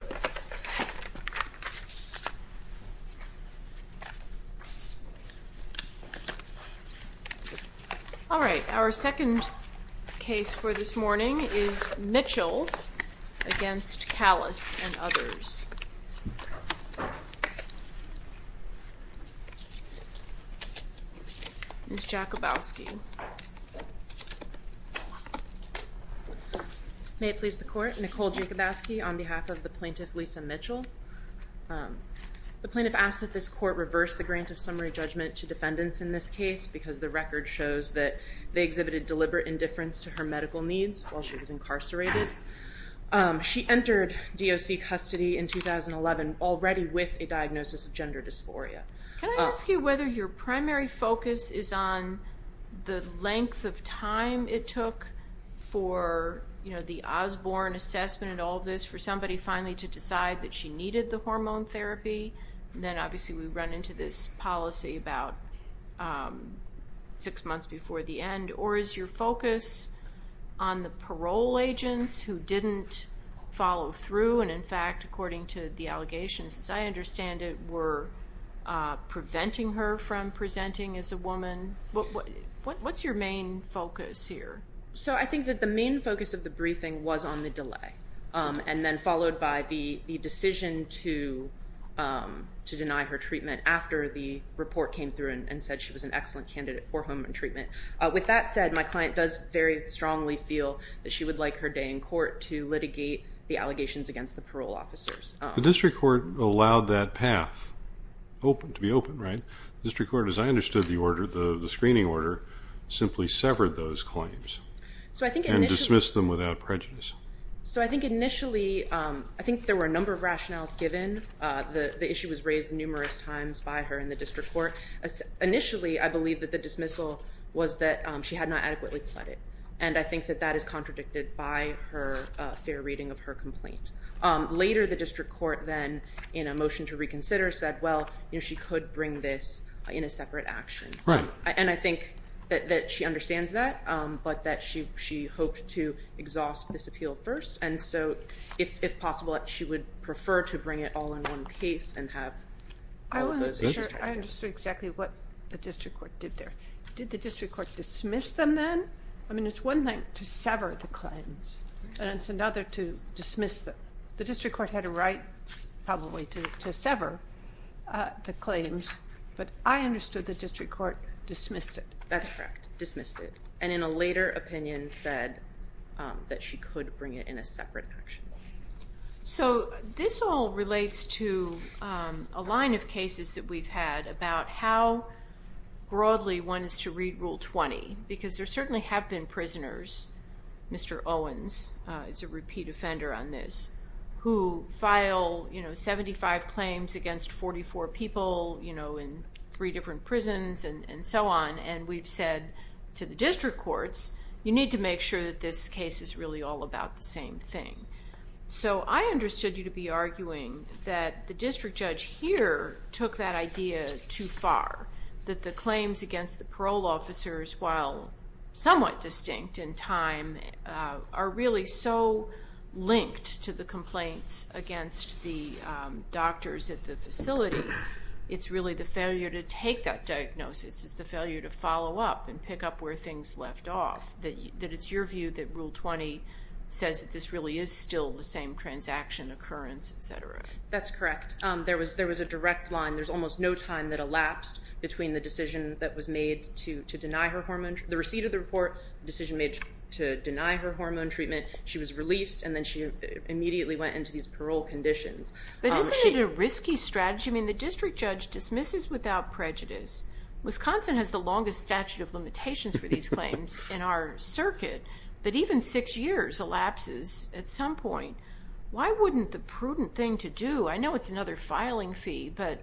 Mitchell v. Kallas, Jr. May it please the Court, Nicole Jacobowski on behalf of the Plaintiff Lisa Mitchell. The Plaintiff asked that this Court reverse the grant of summary judgment to defendants in this case because the record shows that they exhibited deliberate indifference to She entered DOC custody in 2011 already with a diagnosis of gender dysphoria. Can I ask you whether your primary focus is on the length of time it took for, you know, the Osborne assessment and all this for somebody finally to decide that she needed the hormone therapy? Then obviously we run into this policy about six months before the end. Or is your focus on the parole agents who didn't follow through? And in fact, according to the allegations, as I understand it, were preventing her from presenting as a woman. What's your main focus here? So I think that the main focus of the briefing was on the delay. And then followed by the decision to deny her treatment after the report came through and said she was an excellent candidate for hormone treatment. With that said, my client does very strongly feel that she would like her day in court to litigate the allegations against the parole officers. The district court allowed that path to be open, right? The district court, as I understood the order, the screening order, simply severed those claims and dismissed them without prejudice. So I think initially, I think there were a number of rationales given. The issue was raised numerous times by her in the district court. Initially, I believe that the dismissal was that she had not adequately pled it. And I think that that is contradicted by her fair reading of her complaint. Later, the district court then, in a motion to reconsider, said, well, she could bring this in a separate action. Right. And I think that she understands that, but that she hoped to exhaust this appeal first. And so if possible, she would prefer to bring it all in one case and have all of those issues. I understood exactly what the district court did there. Did the district court dismiss them then? I mean, it's one thing to sever the claims, and it's another to dismiss them. The district court had a right probably to sever the claims, but I understood the district court dismissed it. That's correct. Dismissed it. And in a later opinion said that she could bring it in a separate action. So this all relates to a line of cases that we've had about how broadly one is to read Rule 20, because there certainly have been prisoners, Mr. Owens is a repeat offender on this, who file 75 claims against 44 people in three different prisons and so on, and we've said to the district courts, you need to make sure that this case is really all about the same thing. So I understood you to be arguing that the district judge here took that idea too far, that the claims against the parole officers, while somewhat distinct in time, are really so linked to the complaints against the doctors at the facility. It's really the failure to take that diagnosis. It's the failure to follow up and pick up where things left off, that it's your view that Rule 20 says that this really is still the same transaction occurrence, et cetera. That's correct. There was a direct line. There's almost no time that elapsed between the decision that was made to deny her hormone, the receipt of the report, the decision made to deny her hormone treatment. She was released, and then she immediately went into these parole conditions. But isn't it a risky strategy? I mean, the district judge dismisses without prejudice. Wisconsin has the longest statute of limitations for these claims in our circuit, but even six years elapses at some point. Why wouldn't the prudent thing to do, I know it's another filing fee, but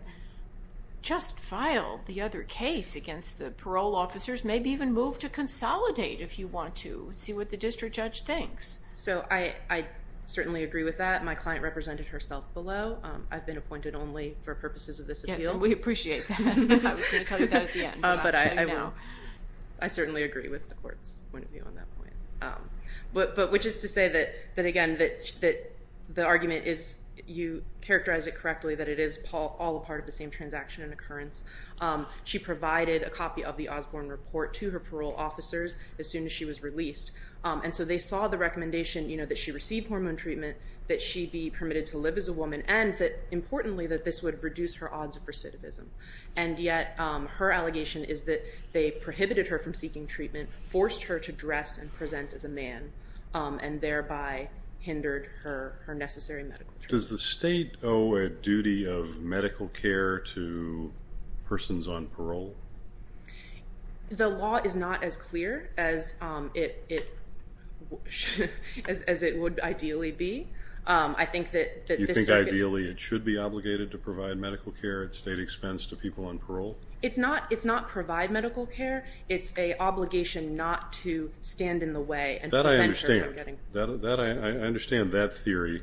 just file the other case against the parole officers, maybe even move to consolidate if you want to see what the district judge thinks? So I certainly agree with that. My client represented herself below. I've been appointed only for purposes of this appeal. Yes, and we appreciate that. I was going to tell you that at the end, but I'll tell you now. I certainly agree with the court's point of view on that point. But which is to say that, again, that the argument is you characterized it correctly, that it is all a part of the same transaction and occurrence. She provided a copy of the Osborne report to her parole officers as soon as she was released, and so they saw the recommendation that she receive hormone treatment, that she be permitted to live as a woman, and importantly that this would reduce her odds of recidivism. And yet her allegation is that they prohibited her from seeking treatment, forced her to dress and present as a man, and thereby hindered her necessary medical treatment. Does the state owe a duty of medical care to persons on parole? The law is not as clear as it would ideally be. You think ideally it should be obligated to provide medical care at state expense to people on parole? It's not provide medical care. It's an obligation not to stand in the way. That I understand. I understand that theory.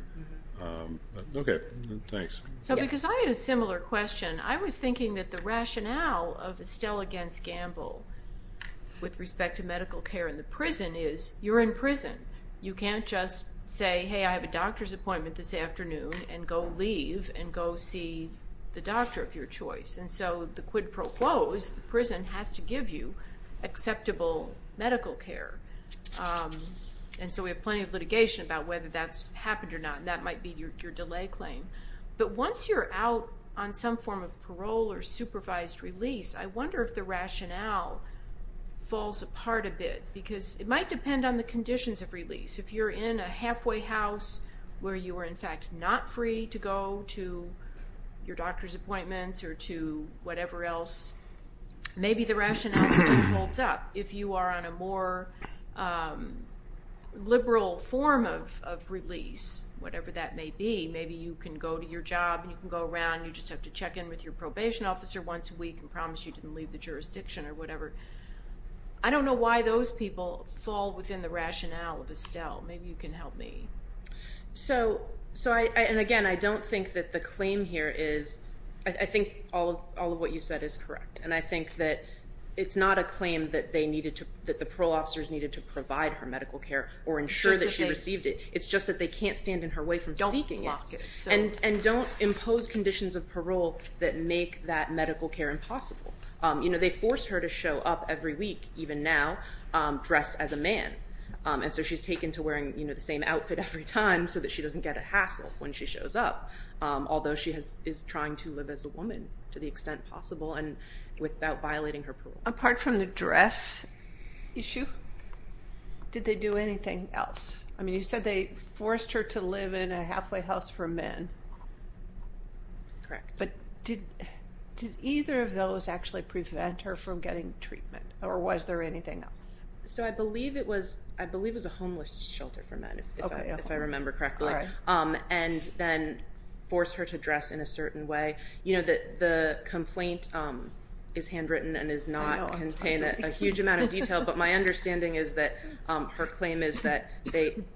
Okay, thanks. So because I had a similar question, I was thinking that the rationale of Estelle against Gamble with respect to medical care in the prison is you're in prison. You can't just say, hey, I have a doctor's appointment this afternoon, and go leave and go see the doctor of your choice. And so the quid pro quo is the prison has to give you acceptable medical care. And so we have plenty of litigation about whether that's happened or not, and that might be your delay claim. But once you're out on some form of parole or supervised release, I wonder if the rationale falls apart a bit, because it might depend on the conditions of release. If you're in a halfway house where you are, in fact, not free to go to your doctor's appointments or to whatever else, maybe the rationale still holds up. If you are on a more liberal form of release, whatever that may be, maybe you can go to your job and you can go around and you just have to check in with your probation officer once a week and promise you didn't leave the jurisdiction or whatever. I don't know why those people fall within the rationale of Estelle. Maybe you can help me. So, and again, I don't think that the claim here is, I think all of what you said is correct. And I think that it's not a claim that they needed to, that the parole officers needed to provide her medical care or ensure that she received it. It's just that they can't stand in her way from seeking it. Don't block it. And don't impose conditions of parole that make that medical care impossible. You know, they force her to show up every week, even now, dressed as a man. And so she's taken to wearing, you know, the same outfit every time so that she doesn't get a hassle when she shows up. Although she is trying to live as a woman to the extent possible and without violating her parole. Apart from the dress issue, did they do anything else? I mean, you said they forced her to live in a halfway house for men. Correct. But did either of those actually prevent her from getting treatment or was there anything else? So I believe it was a homeless shelter for men, if I remember correctly. And then forced her to dress in a certain way. You know, the complaint is handwritten and does not contain a huge amount of detail. But my understanding is that her claim is that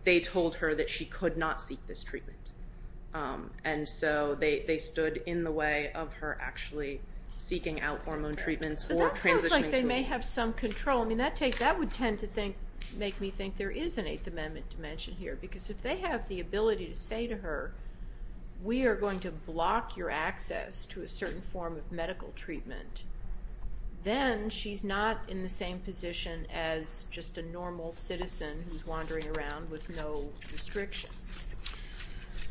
they told her that she could not seek this treatment. And so they stood in the way of her actually seeking out hormone treatments or transitioning to it. So that sounds like they may have some control. I mean, that would tend to make me think there is an Eighth Amendment dimension here. Because if they have the ability to say to her, we are going to block your access to a certain form of medical treatment, then she's not in the same position as just a normal citizen who's wandering around with no restrictions.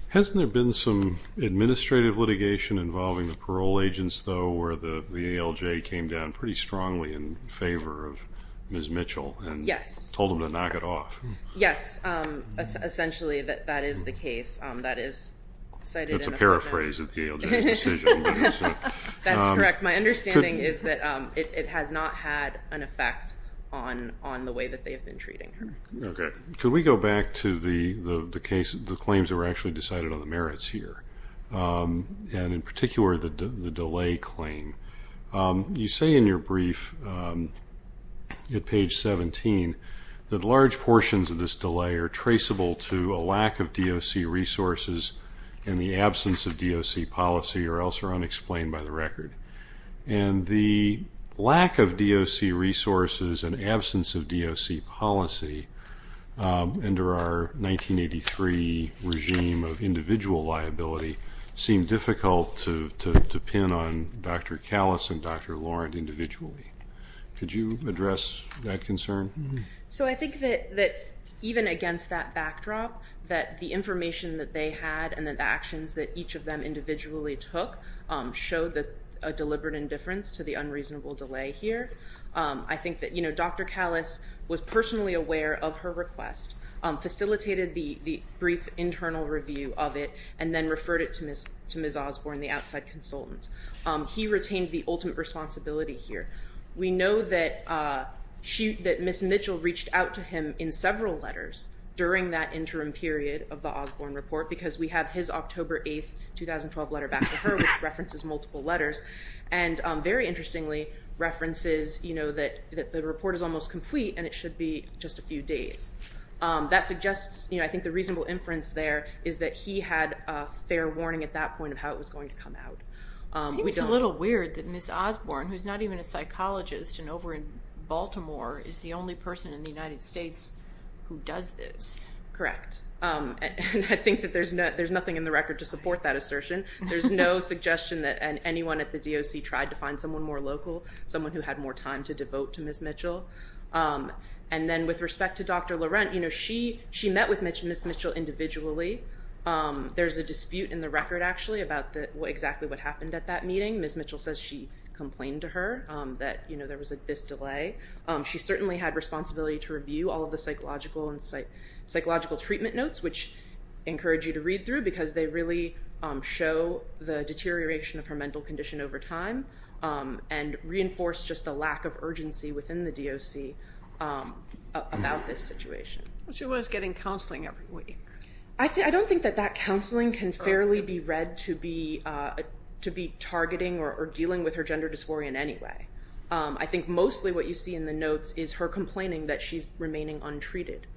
Hasn't there been some administrative litigation involving the parole agents, though, where the ALJ came down pretty strongly in favor of Ms. Mitchell and told them to knock it off? Yes. Essentially, that is the case. That's a paraphrase of the ALJ's decision. That's correct. My understanding is that it has not had an effect on the way that they have been treating her. Okay. Could we go back to the claims that were actually decided on the merits here? And in particular, the delay claim. You say in your brief at page 17 that large portions of this delay are traceable to a lack of DOC resources and the absence of DOC policy or else are unexplained by the record. And the lack of DOC resources and absence of DOC policy under our 1983 regime of individual liability seemed difficult to pin on Dr. Callis and Dr. Lauren individually. Could you address that concern? So I think that even against that backdrop, that the information that they had and the actions that each of them individually took showed a deliberate indifference to the unreasonable delay here. I think that Dr. Callis was personally aware of her request, facilitated the brief internal review of it, and then referred it to Ms. Osborne, the outside consultant. He retained the ultimate responsibility here. We know that Ms. Mitchell reached out to him in several letters during that interim period of the Osborne report because we have his October 8, 2012 letter back to her, which references multiple letters, and very interestingly references that the report is almost complete and it should be just a few days. That suggests I think the reasonable inference there is that he had a fair warning at that point of how it was going to come out. It seems a little weird that Ms. Osborne, who's not even a psychologist and over in Baltimore, is the only person in the United States who does this. Correct. And I think that there's nothing in the record to support that assertion. There's no suggestion that anyone at the DOC tried to find someone more local, someone who had more time to devote to Ms. Mitchell. And then with respect to Dr. Laurent, she met with Ms. Mitchell individually. There's a dispute in the record actually about exactly what happened at that meeting. Ms. Mitchell says she complained to her that there was this delay. She certainly had responsibility to review all of the psychological and psychological treatment notes, which I encourage you to read through because they really show the deterioration of her mental condition over time and reinforce just the lack of urgency within the DOC about this situation. She was getting counseling every week. I don't think that that counseling can fairly be read to be targeting or dealing with her gender dysphoria in any way. I think mostly what you see in the notes is her complaining that she's remaining untreated.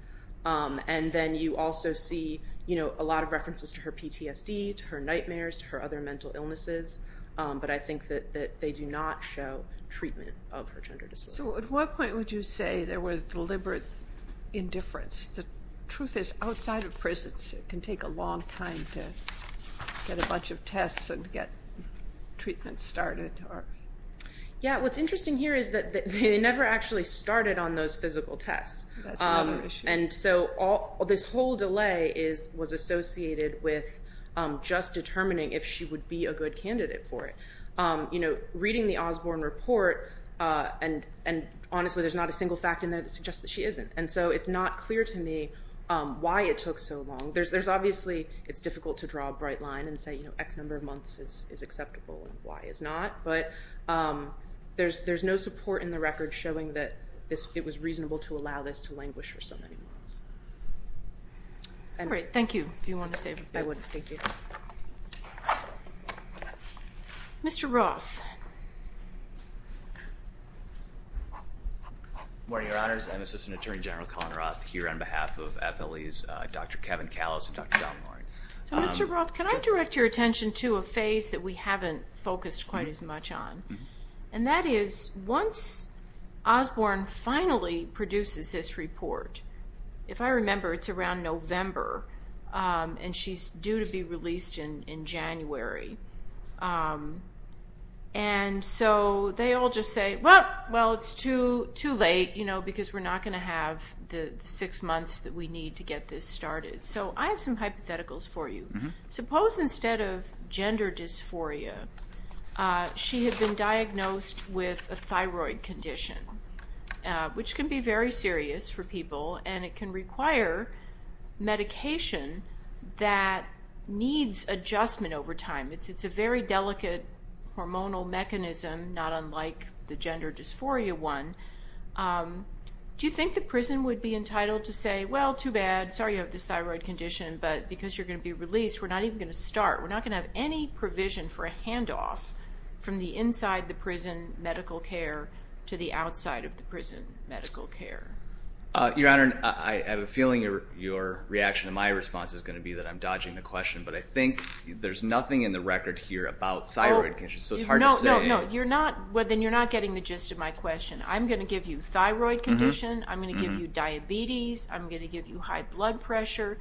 And then you also see a lot of references to her PTSD, to her nightmares, to her other mental illnesses, but I think that they do not show treatment of her gender dysphoria. So at what point would you say there was deliberate indifference? The truth is outside of prisons it can take a long time to get a bunch of tests and get treatment started. Yeah, what's interesting here is that they never actually started on those physical tests. That's another issue. And so this whole delay was associated with just determining if she would be a good candidate for it. You know, reading the Osborne report, and honestly there's not a single fact in there that suggests that she isn't, and so it's not clear to me why it took so long. There's obviously it's difficult to draw a bright line and say, you know, X number of months is acceptable and Y is not, but there's no support in the record showing that it was reasonable to allow this to languish for so many months. All right, thank you. If you wanted to say anything. I wouldn't. Thank you. Mr. Roth. Good morning, Your Honors. I'm Assistant Attorney General Colin Roth here on behalf of FLE's Dr. Kevin Callis and Dr. John Loring. So, Mr. Roth, can I direct your attention to a phase that we haven't focused quite as much on, and that is once Osborne finally produces this report, if I remember, it's around November, and she's due to be released in January, and so they all just say, well, it's too late, you know, because we're not going to have the six months that we need to get this started. So I have some hypotheticals for you. Suppose instead of gender dysphoria, she had been diagnosed with a thyroid condition, which can be very serious for people, and it can require medication that needs adjustment over time. It's a very delicate hormonal mechanism, not unlike the gender dysphoria one. Do you think the prison would be entitled to say, well, too bad, sorry you have this thyroid condition, but because you're going to be released, we're not even going to start. We're not going to have any provision for a handoff from the inside the prison medical care to the outside of the prison medical care. Your Honor, I have a feeling your reaction to my response is going to be that I'm dodging the question, but I think there's nothing in the record here about thyroid conditions, so it's hard to say. Well, then you're not getting the gist of my question. I'm going to give you thyroid condition, I'm going to give you diabetes, I'm going to give you high blood pressure.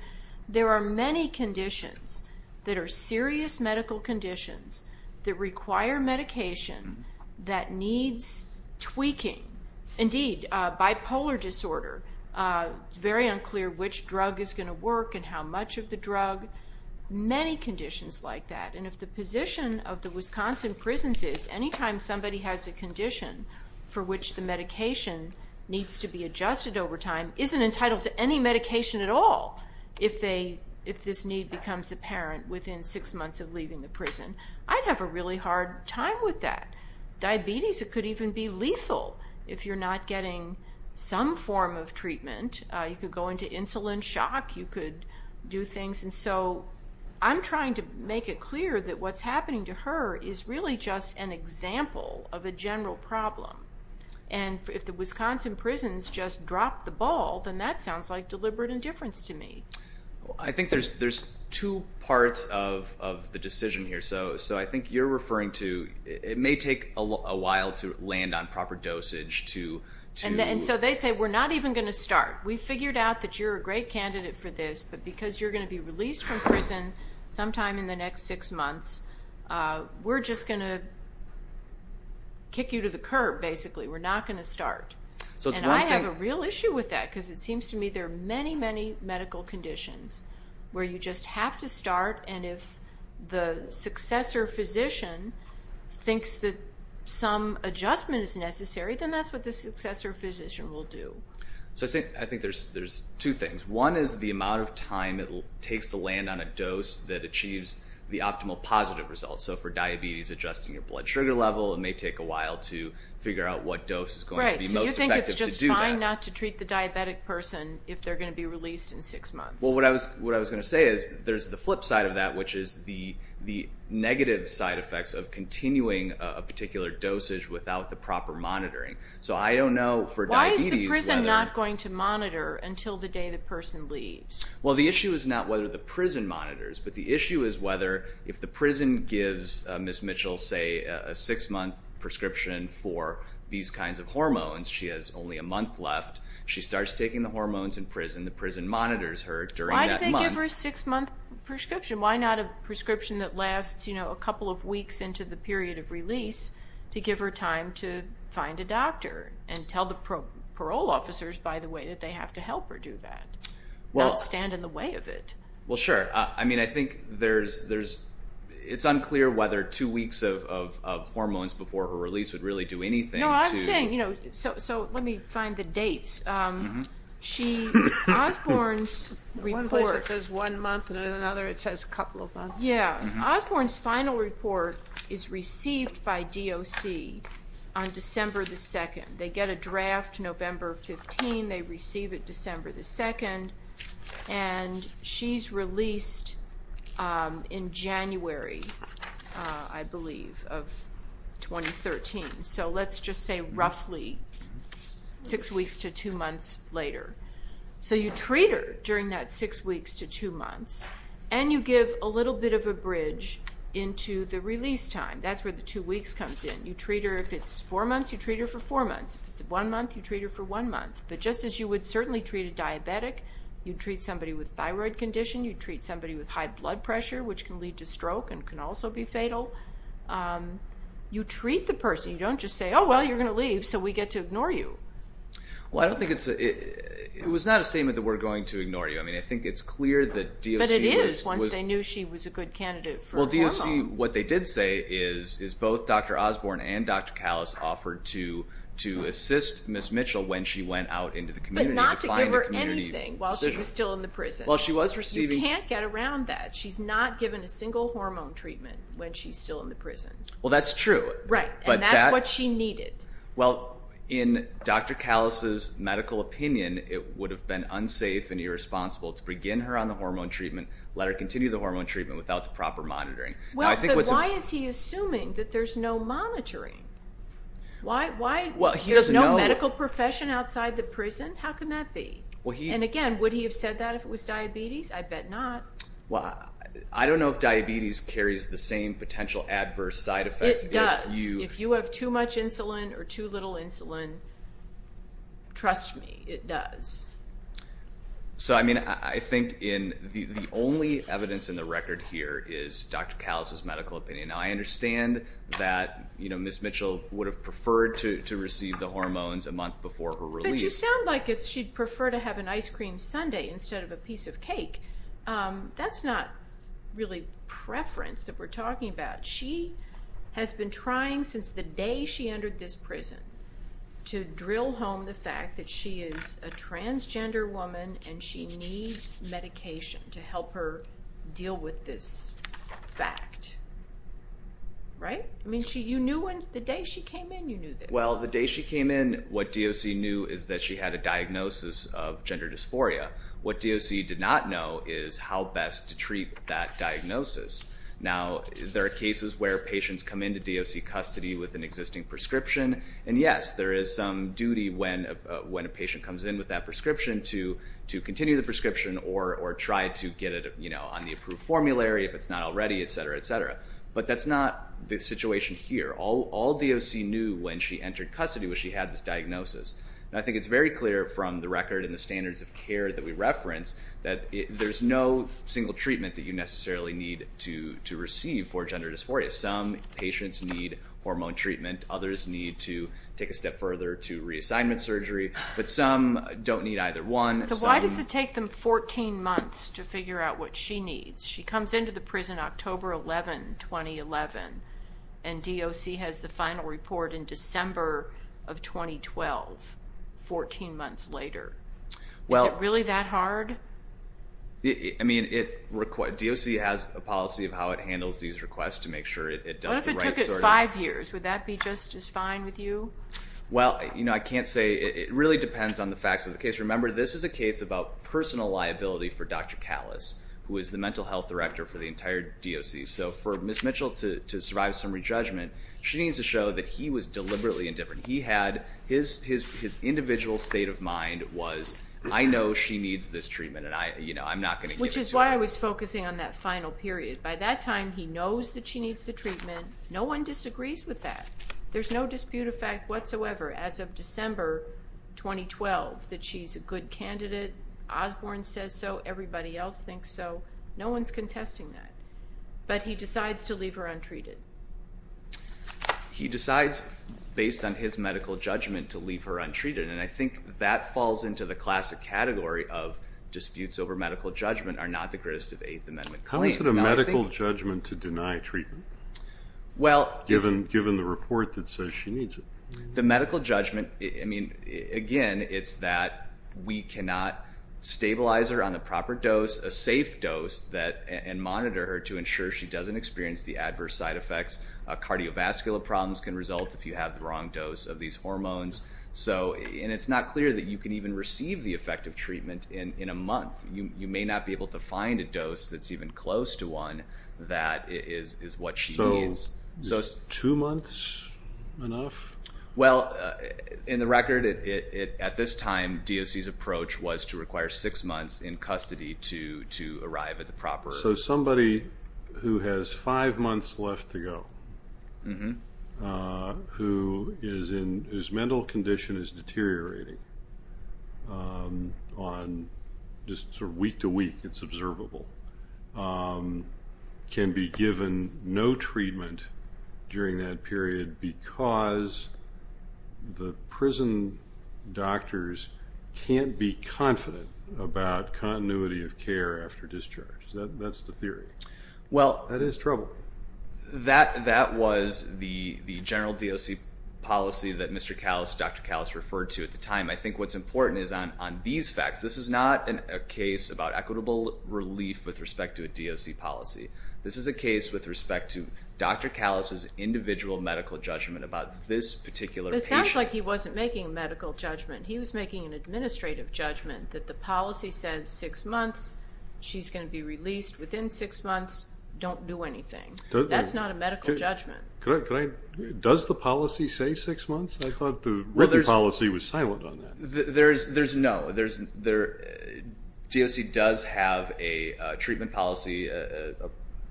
There are many conditions that are serious medical conditions that require medication that needs tweaking. Indeed, bipolar disorder, it's very unclear which drug is going to work and how much of the drug. Many conditions like that, and if the position of the Wisconsin prisons is, anytime somebody has a condition for which the medication needs to be adjusted over time, isn't entitled to any medication at all if this need becomes apparent within six months of leaving the prison, I'd have a really hard time with that. Diabetes, it could even be lethal if you're not getting some form of treatment. You could go into insulin shock, you could do things. And so I'm trying to make it clear that what's happening to her is really just an example of a general problem. And if the Wisconsin prisons just drop the ball, then that sounds like deliberate indifference to me. I think there's two parts of the decision here. So I think you're referring to it may take a while to land on proper dosage to... We figured out that you're a great candidate for this, but because you're going to be released from prison sometime in the next six months, we're just going to kick you to the curb, basically. We're not going to start. And I have a real issue with that because it seems to me there are many, many medical conditions where you just have to start, and if the successor physician thinks that some adjustment is necessary, then that's what the successor physician will do. So I think there's two things. One is the amount of time it takes to land on a dose that achieves the optimal positive results. So for diabetes, adjusting your blood sugar level, it may take a while to figure out what dose is going to be most effective to do that. Right, so you think it's just fine not to treat the diabetic person if they're going to be released in six months. Well, what I was going to say is there's the flip side of that, which is the negative side effects of continuing a particular dosage without the proper monitoring. Why is the prison not going to monitor until the day the person leaves? Well, the issue is not whether the prison monitors, but the issue is whether if the prison gives Ms. Mitchell, say, a six-month prescription for these kinds of hormones, she has only a month left, she starts taking the hormones in prison, the prison monitors her during that month. Why do they give her a six-month prescription? Why not a prescription that lasts a couple of weeks into the period of release to give her time to find a doctor and tell the parole officers, by the way, that they have to help her do that, not stand in the way of it? Well, sure. I mean, I think it's unclear whether two weeks of hormones before her release would really do anything. No, I'm saying, you know, so let me find the dates. One place it says one month and in another it says a couple of months. Yeah. Osborne's final report is received by DOC on December 2nd. They get a draft November 15, they receive it December 2nd, and she's released in January, I believe, of 2013. So let's just say roughly six weeks to two months later. So you treat her during that six weeks to two months and you give a little bit of a bridge into the release time. That's where the two weeks comes in. You treat her, if it's four months, you treat her for four months. If it's one month, you treat her for one month. But just as you would certainly treat a diabetic, you'd treat somebody with thyroid condition, you'd treat somebody with high blood pressure, which can lead to stroke and can also be fatal. You treat the person. You don't just say, oh, well, you're going to leave, so we get to ignore you. Well, I don't think it's... it was not a statement that we're going to ignore you. I mean, I think it's clear that DOC was... But it is once they knew she was a good candidate for hormones. Well, DOC, what they did say is both Dr. Osborne and Dr. Callis offered to assist Ms. Mitchell when she went out into the community. But not to give her anything while she was still in the prison. Well, she was receiving... She can't get around that. She's not given a single hormone treatment when she's still in the prison. Well, that's true. Right, and that's what she needed. Well, in Dr. Callis' medical opinion, it would have been unsafe and irresponsible to begin her on the hormone treatment, let her continue the hormone treatment without the proper monitoring. Well, but why is he assuming that there's no monitoring? Why... there's no medical profession outside the prison? How can that be? And again, would he have said that if it was diabetes? I bet not. Well, I don't know if diabetes carries the same potential adverse side effects. It does. If you have too much insulin or too little insulin, trust me, it does. So, I mean, I think the only evidence in the record here is Dr. Callis' medical opinion. Now, I understand that Ms. Mitchell would have preferred to receive the hormones a month before her release. But you sound like she'd prefer to have an ice cream sundae instead of a piece of cake. That's not really preference that we're talking about. She has been trying since the day she entered this prison to drill home the fact that she is a transgender woman and she needs medication to help her deal with this fact. Right? I mean, you knew when... the day she came in, you knew this. Well, the day she came in, what DOC knew is that she had a diagnosis of gender dysphoria. What DOC did not know is how best to treat that diagnosis. Now, there are cases where patients come into DOC custody with an existing prescription. And yes, there is some duty when a patient comes in with that prescription to continue the prescription or try to get it on the approved formulary if it's not already, etc., etc. But that's not the situation here. All DOC knew when she entered custody was she had this diagnosis. And I think it's very clear from the record and the standards of care that we reference that there's no single treatment that you necessarily need to receive for gender dysphoria. Some patients need hormone treatment. Others need to take a step further to reassignment surgery. But some don't need either one. So why does it take them 14 months to figure out what she needs? She comes into the prison October 11, 2011, and DOC has the final report in December of 2012, 14 months later. Is it really that hard? I mean, DOC has a policy of how it handles these requests to make sure it does the right surgery. What if it took it five years? Would that be just as fine with you? Well, you know, I can't say. It really depends on the facts of the case. Remember, this is a case about personal liability for Dr. Kallis, who is the mental health director for the entire DOC. So for Ms. Mitchell to survive summary judgment, she needs to show that he was deliberately indifferent. His individual state of mind was, I know she needs this treatment, and I'm not going to give it to her. Which is why I was focusing on that final period. By that time, he knows that she needs the treatment. No one disagrees with that. There's no dispute of fact whatsoever as of December 2012 that she's a good candidate. Osborne says so. Everybody else thinks so. No one's contesting that. But he decides to leave her untreated. He decides, based on his medical judgment, to leave her untreated. And I think that falls into the classic category of disputes over medical judgment are not the greatest of Eighth Amendment claims. How is it a medical judgment to deny treatment, given the report that says she needs it? The medical judgment, again, it's that we cannot stabilize her on the proper dose, a safe dose, and monitor her to ensure she doesn't experience the adverse side effects. Cardiovascular problems can result if you have the wrong dose of these hormones. And it's not clear that you can even receive the effective treatment in a month. You may not be able to find a dose that's even close to one that is what she needs. Is two months enough? Well, in the record, at this time, DOC's approach was to require six months in custody to arrive at the proper. So somebody who has five months left to go, who is in his mental condition is deteriorating on just sort of week to week, it's observable, can be given no treatment during that period because the prison doctors can't be confident about continuity of care after discharge. That's the theory. That is trouble. That was the general DOC policy that Mr. Callis, Dr. Callis referred to at the time. I think what's important is on these facts, this is not a case about equitable relief with respect to a DOC policy. This is a case with respect to Dr. Callis' individual medical judgment about this particular patient. It sounds like he wasn't making a medical judgment. He was making an administrative judgment that the policy says six months, she's going to be released within six months, don't do anything. That's not a medical judgment. Does the policy say six months? I thought the written policy was silent on that. There's no. DOC does have a treatment policy, a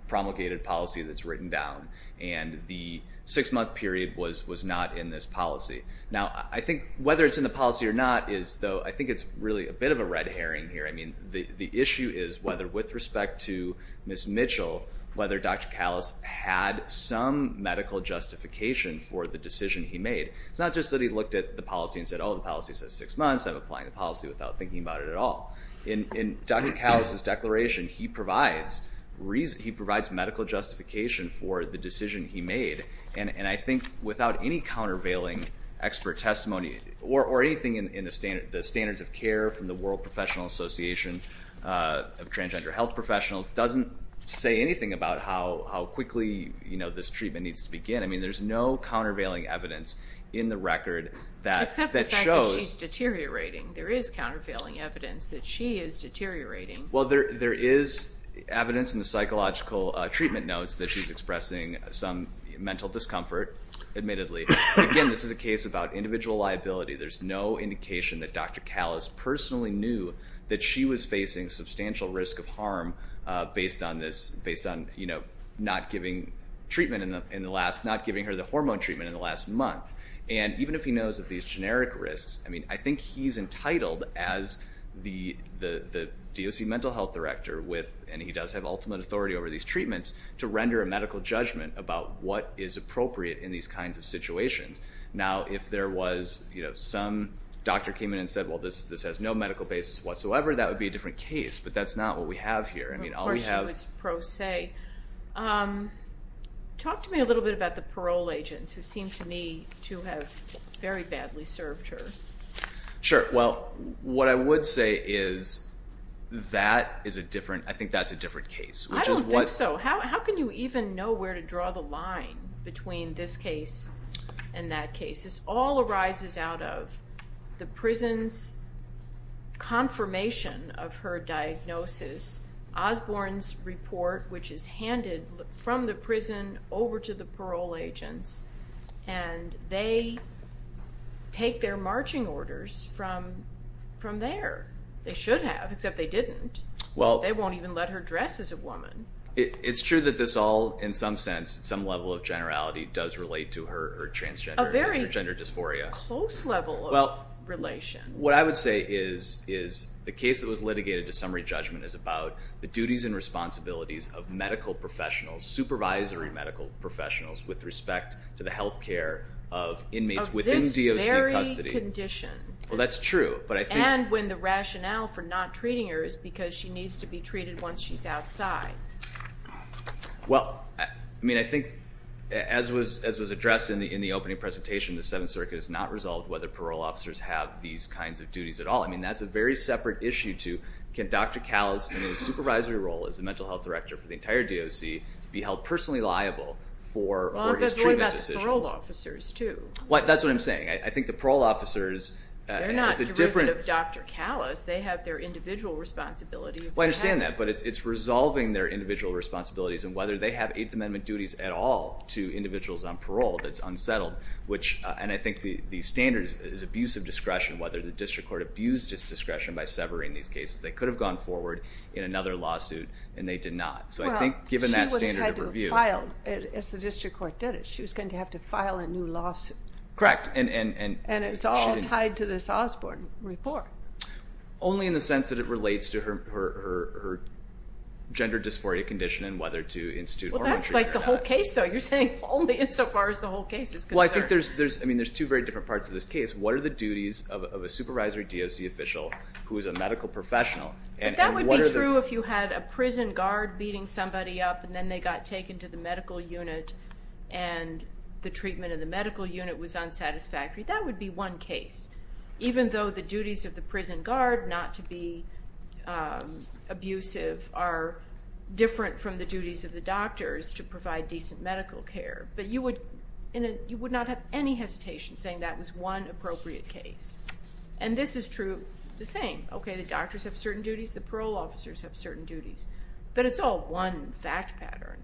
promulgated policy that's written down, and the six-month period was not in this policy. Now I think whether it's in the policy or not is though I think it's really a bit of a red herring here. I mean the issue is whether with respect to Ms. Mitchell, whether Dr. Callis had some medical justification for the decision he made. It's not just that he looked at the policy and said, oh, the policy says six months. I'm applying the policy without thinking about it at all. In Dr. Callis' declaration, he provides medical justification for the decision he made, and I think without any countervailing expert testimony or anything in the standards of care from the World Professional Association of Transgender Health Professionals doesn't say anything about how quickly this treatment needs to begin. I mean there's no countervailing evidence in the record that shows. Except the fact that she's deteriorating. There is countervailing evidence that she is deteriorating. Well, there is evidence in the psychological treatment notes that she's expressing some mental discomfort, admittedly. Again, this is a case about individual liability. There's no indication that Dr. Callis personally knew that she was facing substantial risk of harm based on this, not giving her the hormone treatment in the last month. And even if he knows of these generic risks, I mean, I think he's entitled as the DOC Mental Health Director with, and he does have ultimate authority over these treatments, to render a medical judgment about what is appropriate in these kinds of situations. Now, if there was some doctor came in and said, well, this has no medical basis whatsoever, that would be a different case. But that's not what we have here. Of course she was pro se. Talk to me a little bit about the parole agents who seem to me to have very badly served her. Sure. Well, what I would say is that is a different, I think that's a different case. I don't think so. How can you even know where to draw the line between this case and that case? This all arises out of the prison's confirmation of her diagnosis. Osborne's report, which is handed from the prison over to the parole agents, and they take their marching orders from there. They should have, except they didn't. They won't even let her dress as a woman. It's true that this all, in some sense, at some level of generality, does relate to her transgender dysphoria. A very close level of relation. Well, what I would say is the case that was litigated to summary judgment is about the duties and responsibilities of medical professionals, supervisory medical professionals, with respect to the health care of inmates within DOC custody. Of this very condition. Well, that's true. And when the rationale for not treating her is because she needs to be treated once she's outside. Well, I mean, I think as was addressed in the opening presentation, the Seventh Circuit has not resolved whether parole officers have these kinds of duties at all. I mean, that's a very separate issue to, can Dr. Callas, in his supervisory role as the mental health director for the entire DOC, be held personally liable for his treatment decisions? Well, but what about the parole officers, too? That's what I'm saying. I think the parole officers, it's a different. They're not derivative of Dr. Callas. They have their individual responsibility. Well, I understand that, but it's resolving their individual responsibilities, and whether they have Eighth Amendment duties at all to individuals on parole, that's unsettled. And I think the standard is abuse of discretion, whether the district court abused its discretion by severing these cases. They could have gone forward in another lawsuit, and they did not. So I think given that standard of review. Well, she wouldn't have had to have filed, as the district court did it. She was going to have to file a new lawsuit. Correct, and she didn't. And it's all tied to this Osborne report. Only in the sense that it relates to her gender dysphoria condition and whether to institute or retreat. Well, that's like the whole case, though. You're saying only insofar as the whole case is concerned. Well, I think there's two very different parts of this case. What are the duties of a supervisory DOC official who is a medical professional? But that would be true if you had a prison guard beating somebody up, and then they got taken to the medical unit and the treatment in the medical unit was unsatisfactory. That would be one case. Even though the duties of the prison guard not to be abusive are different from the duties of the doctors to provide decent medical care. But you would not have any hesitation saying that was one appropriate case. And this is true the same. Okay, the doctors have certain duties. The parole officers have certain duties. But it's all one fact pattern.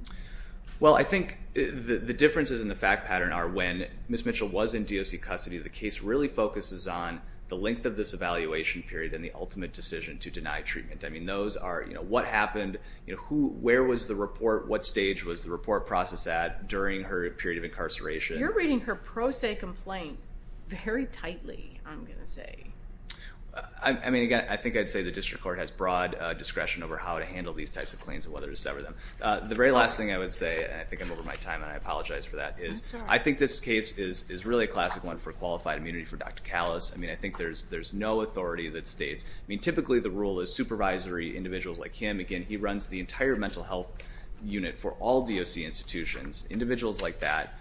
Well, I think the differences in the fact pattern are when Ms. Mitchell was in DOC custody, the case really focuses on the length of this evaluation period and the ultimate decision to deny treatment. I mean, those are, you know, what happened? Where was the report? What stage was the report process at during her period of incarceration? You're reading her pro se complaint very tightly, I'm going to say. I mean, again, I think I'd say the district court has broad discretion over how to handle these types of claims and whether to sever them. The very last thing I would say, and I think I'm over my time and I apologize for that, is I think this case is really a classic one for qualified immunity for Dr. Callas. I mean, I think there's no authority that states, I mean, typically the rule is supervisory individuals like him. Again, he runs the entire mental health unit for all DOC institutions. Individuals like that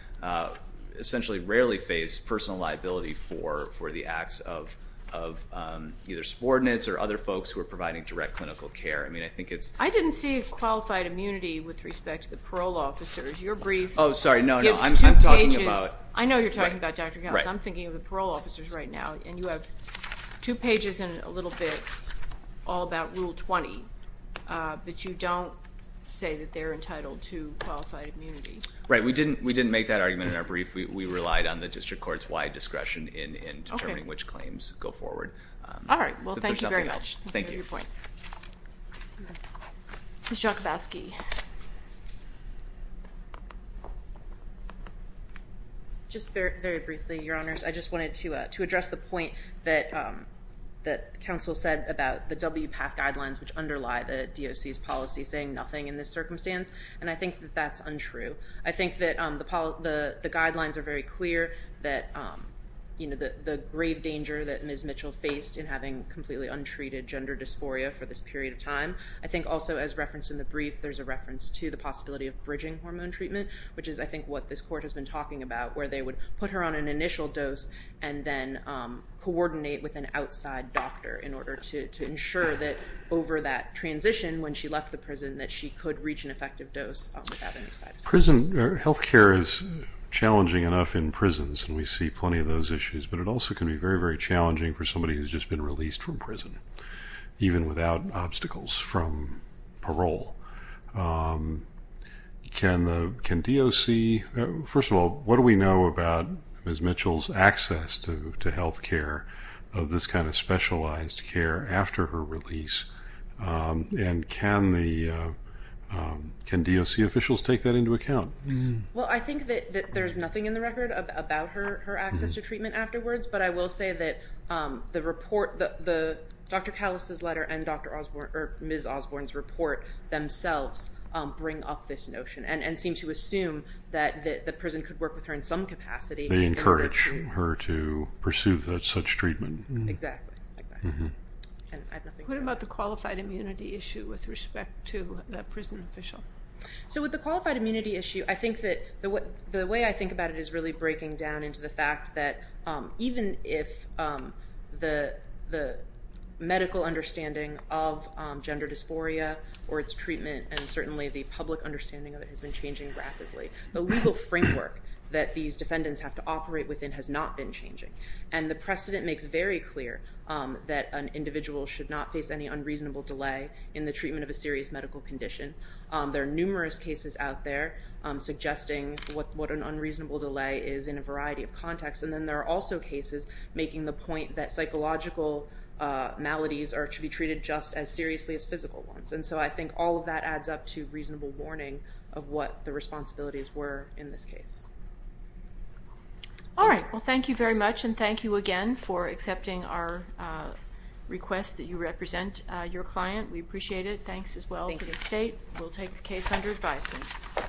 essentially rarely face personal liability for the acts of either subordinates or other folks who are providing direct clinical care. I mean, I think it's- I didn't see qualified immunity with respect to the parole officers. Your brief- Oh, sorry. No, no. I'm talking about- I know you're talking about Dr. Callas. I'm thinking of the parole officers right now. And you have two pages and a little bit all about Rule 20, but you don't say that they're entitled to qualified immunity. Right. We didn't make that argument in our brief. We relied on the district court's wide discretion in determining which claims go forward. All right. Well, thank you very much. Thank you. I appreciate your point. Ms. Jakubowski. Just very briefly, Your Honors. I just wanted to address the point that counsel said about the WPATH guidelines which underlie the DOC's policy saying nothing in this circumstance. And I think that that's untrue. I think that the guidelines are very clear that, you know, the grave danger that Ms. Mitchell faced in having completely untreated gender dysphoria for this period of time. I think also as referenced in the brief, there's a reference to the possibility of bridging hormone treatment, which is I think what this court has been talking about where they would put her on an initial dose and then coordinate with an outside doctor in order to ensure that over that transition when she left the prison that she could reach an effective dose without any side effects. Prison health care is challenging enough in prisons, and we see plenty of those issues. But it also can be very, very challenging for somebody who's just been released from prison, even without obstacles from parole. Can DOC – first of all, what do we know about Ms. Mitchell's access to health care of this kind of specialized care after her release? And can the – can DOC officials take that into account? Well, I think that there's nothing in the record about her access to treatment afterwards, but I will say that the report – Dr. Callis' letter and Dr. Osborne – or Ms. Osborne's report themselves bring up this notion and seem to assume that the prison could work with her in some capacity in order to – They encourage her to pursue such treatment. Exactly, exactly. What about the qualified immunity issue with respect to the prison official? So with the qualified immunity issue, I think that the way I think about it is really breaking down into the fact that even if the medical understanding of gender dysphoria or its treatment and certainly the public understanding of it has been changing rapidly, the legal framework that these defendants have to operate within has not been changing. And the precedent makes very clear that an individual should not face any unreasonable delay in the treatment of a serious medical condition. There are numerous cases out there suggesting what an unreasonable delay is in a variety of contexts. And then there are also cases making the point that psychological maladies are to be treated just as seriously as physical ones. And so I think all of that adds up to reasonable warning of what the responsibilities were in this case. All right. Well, thank you very much, and thank you again for accepting our request that you represent your client. We appreciate it. Thanks as well to the state. We'll take the case under advisement.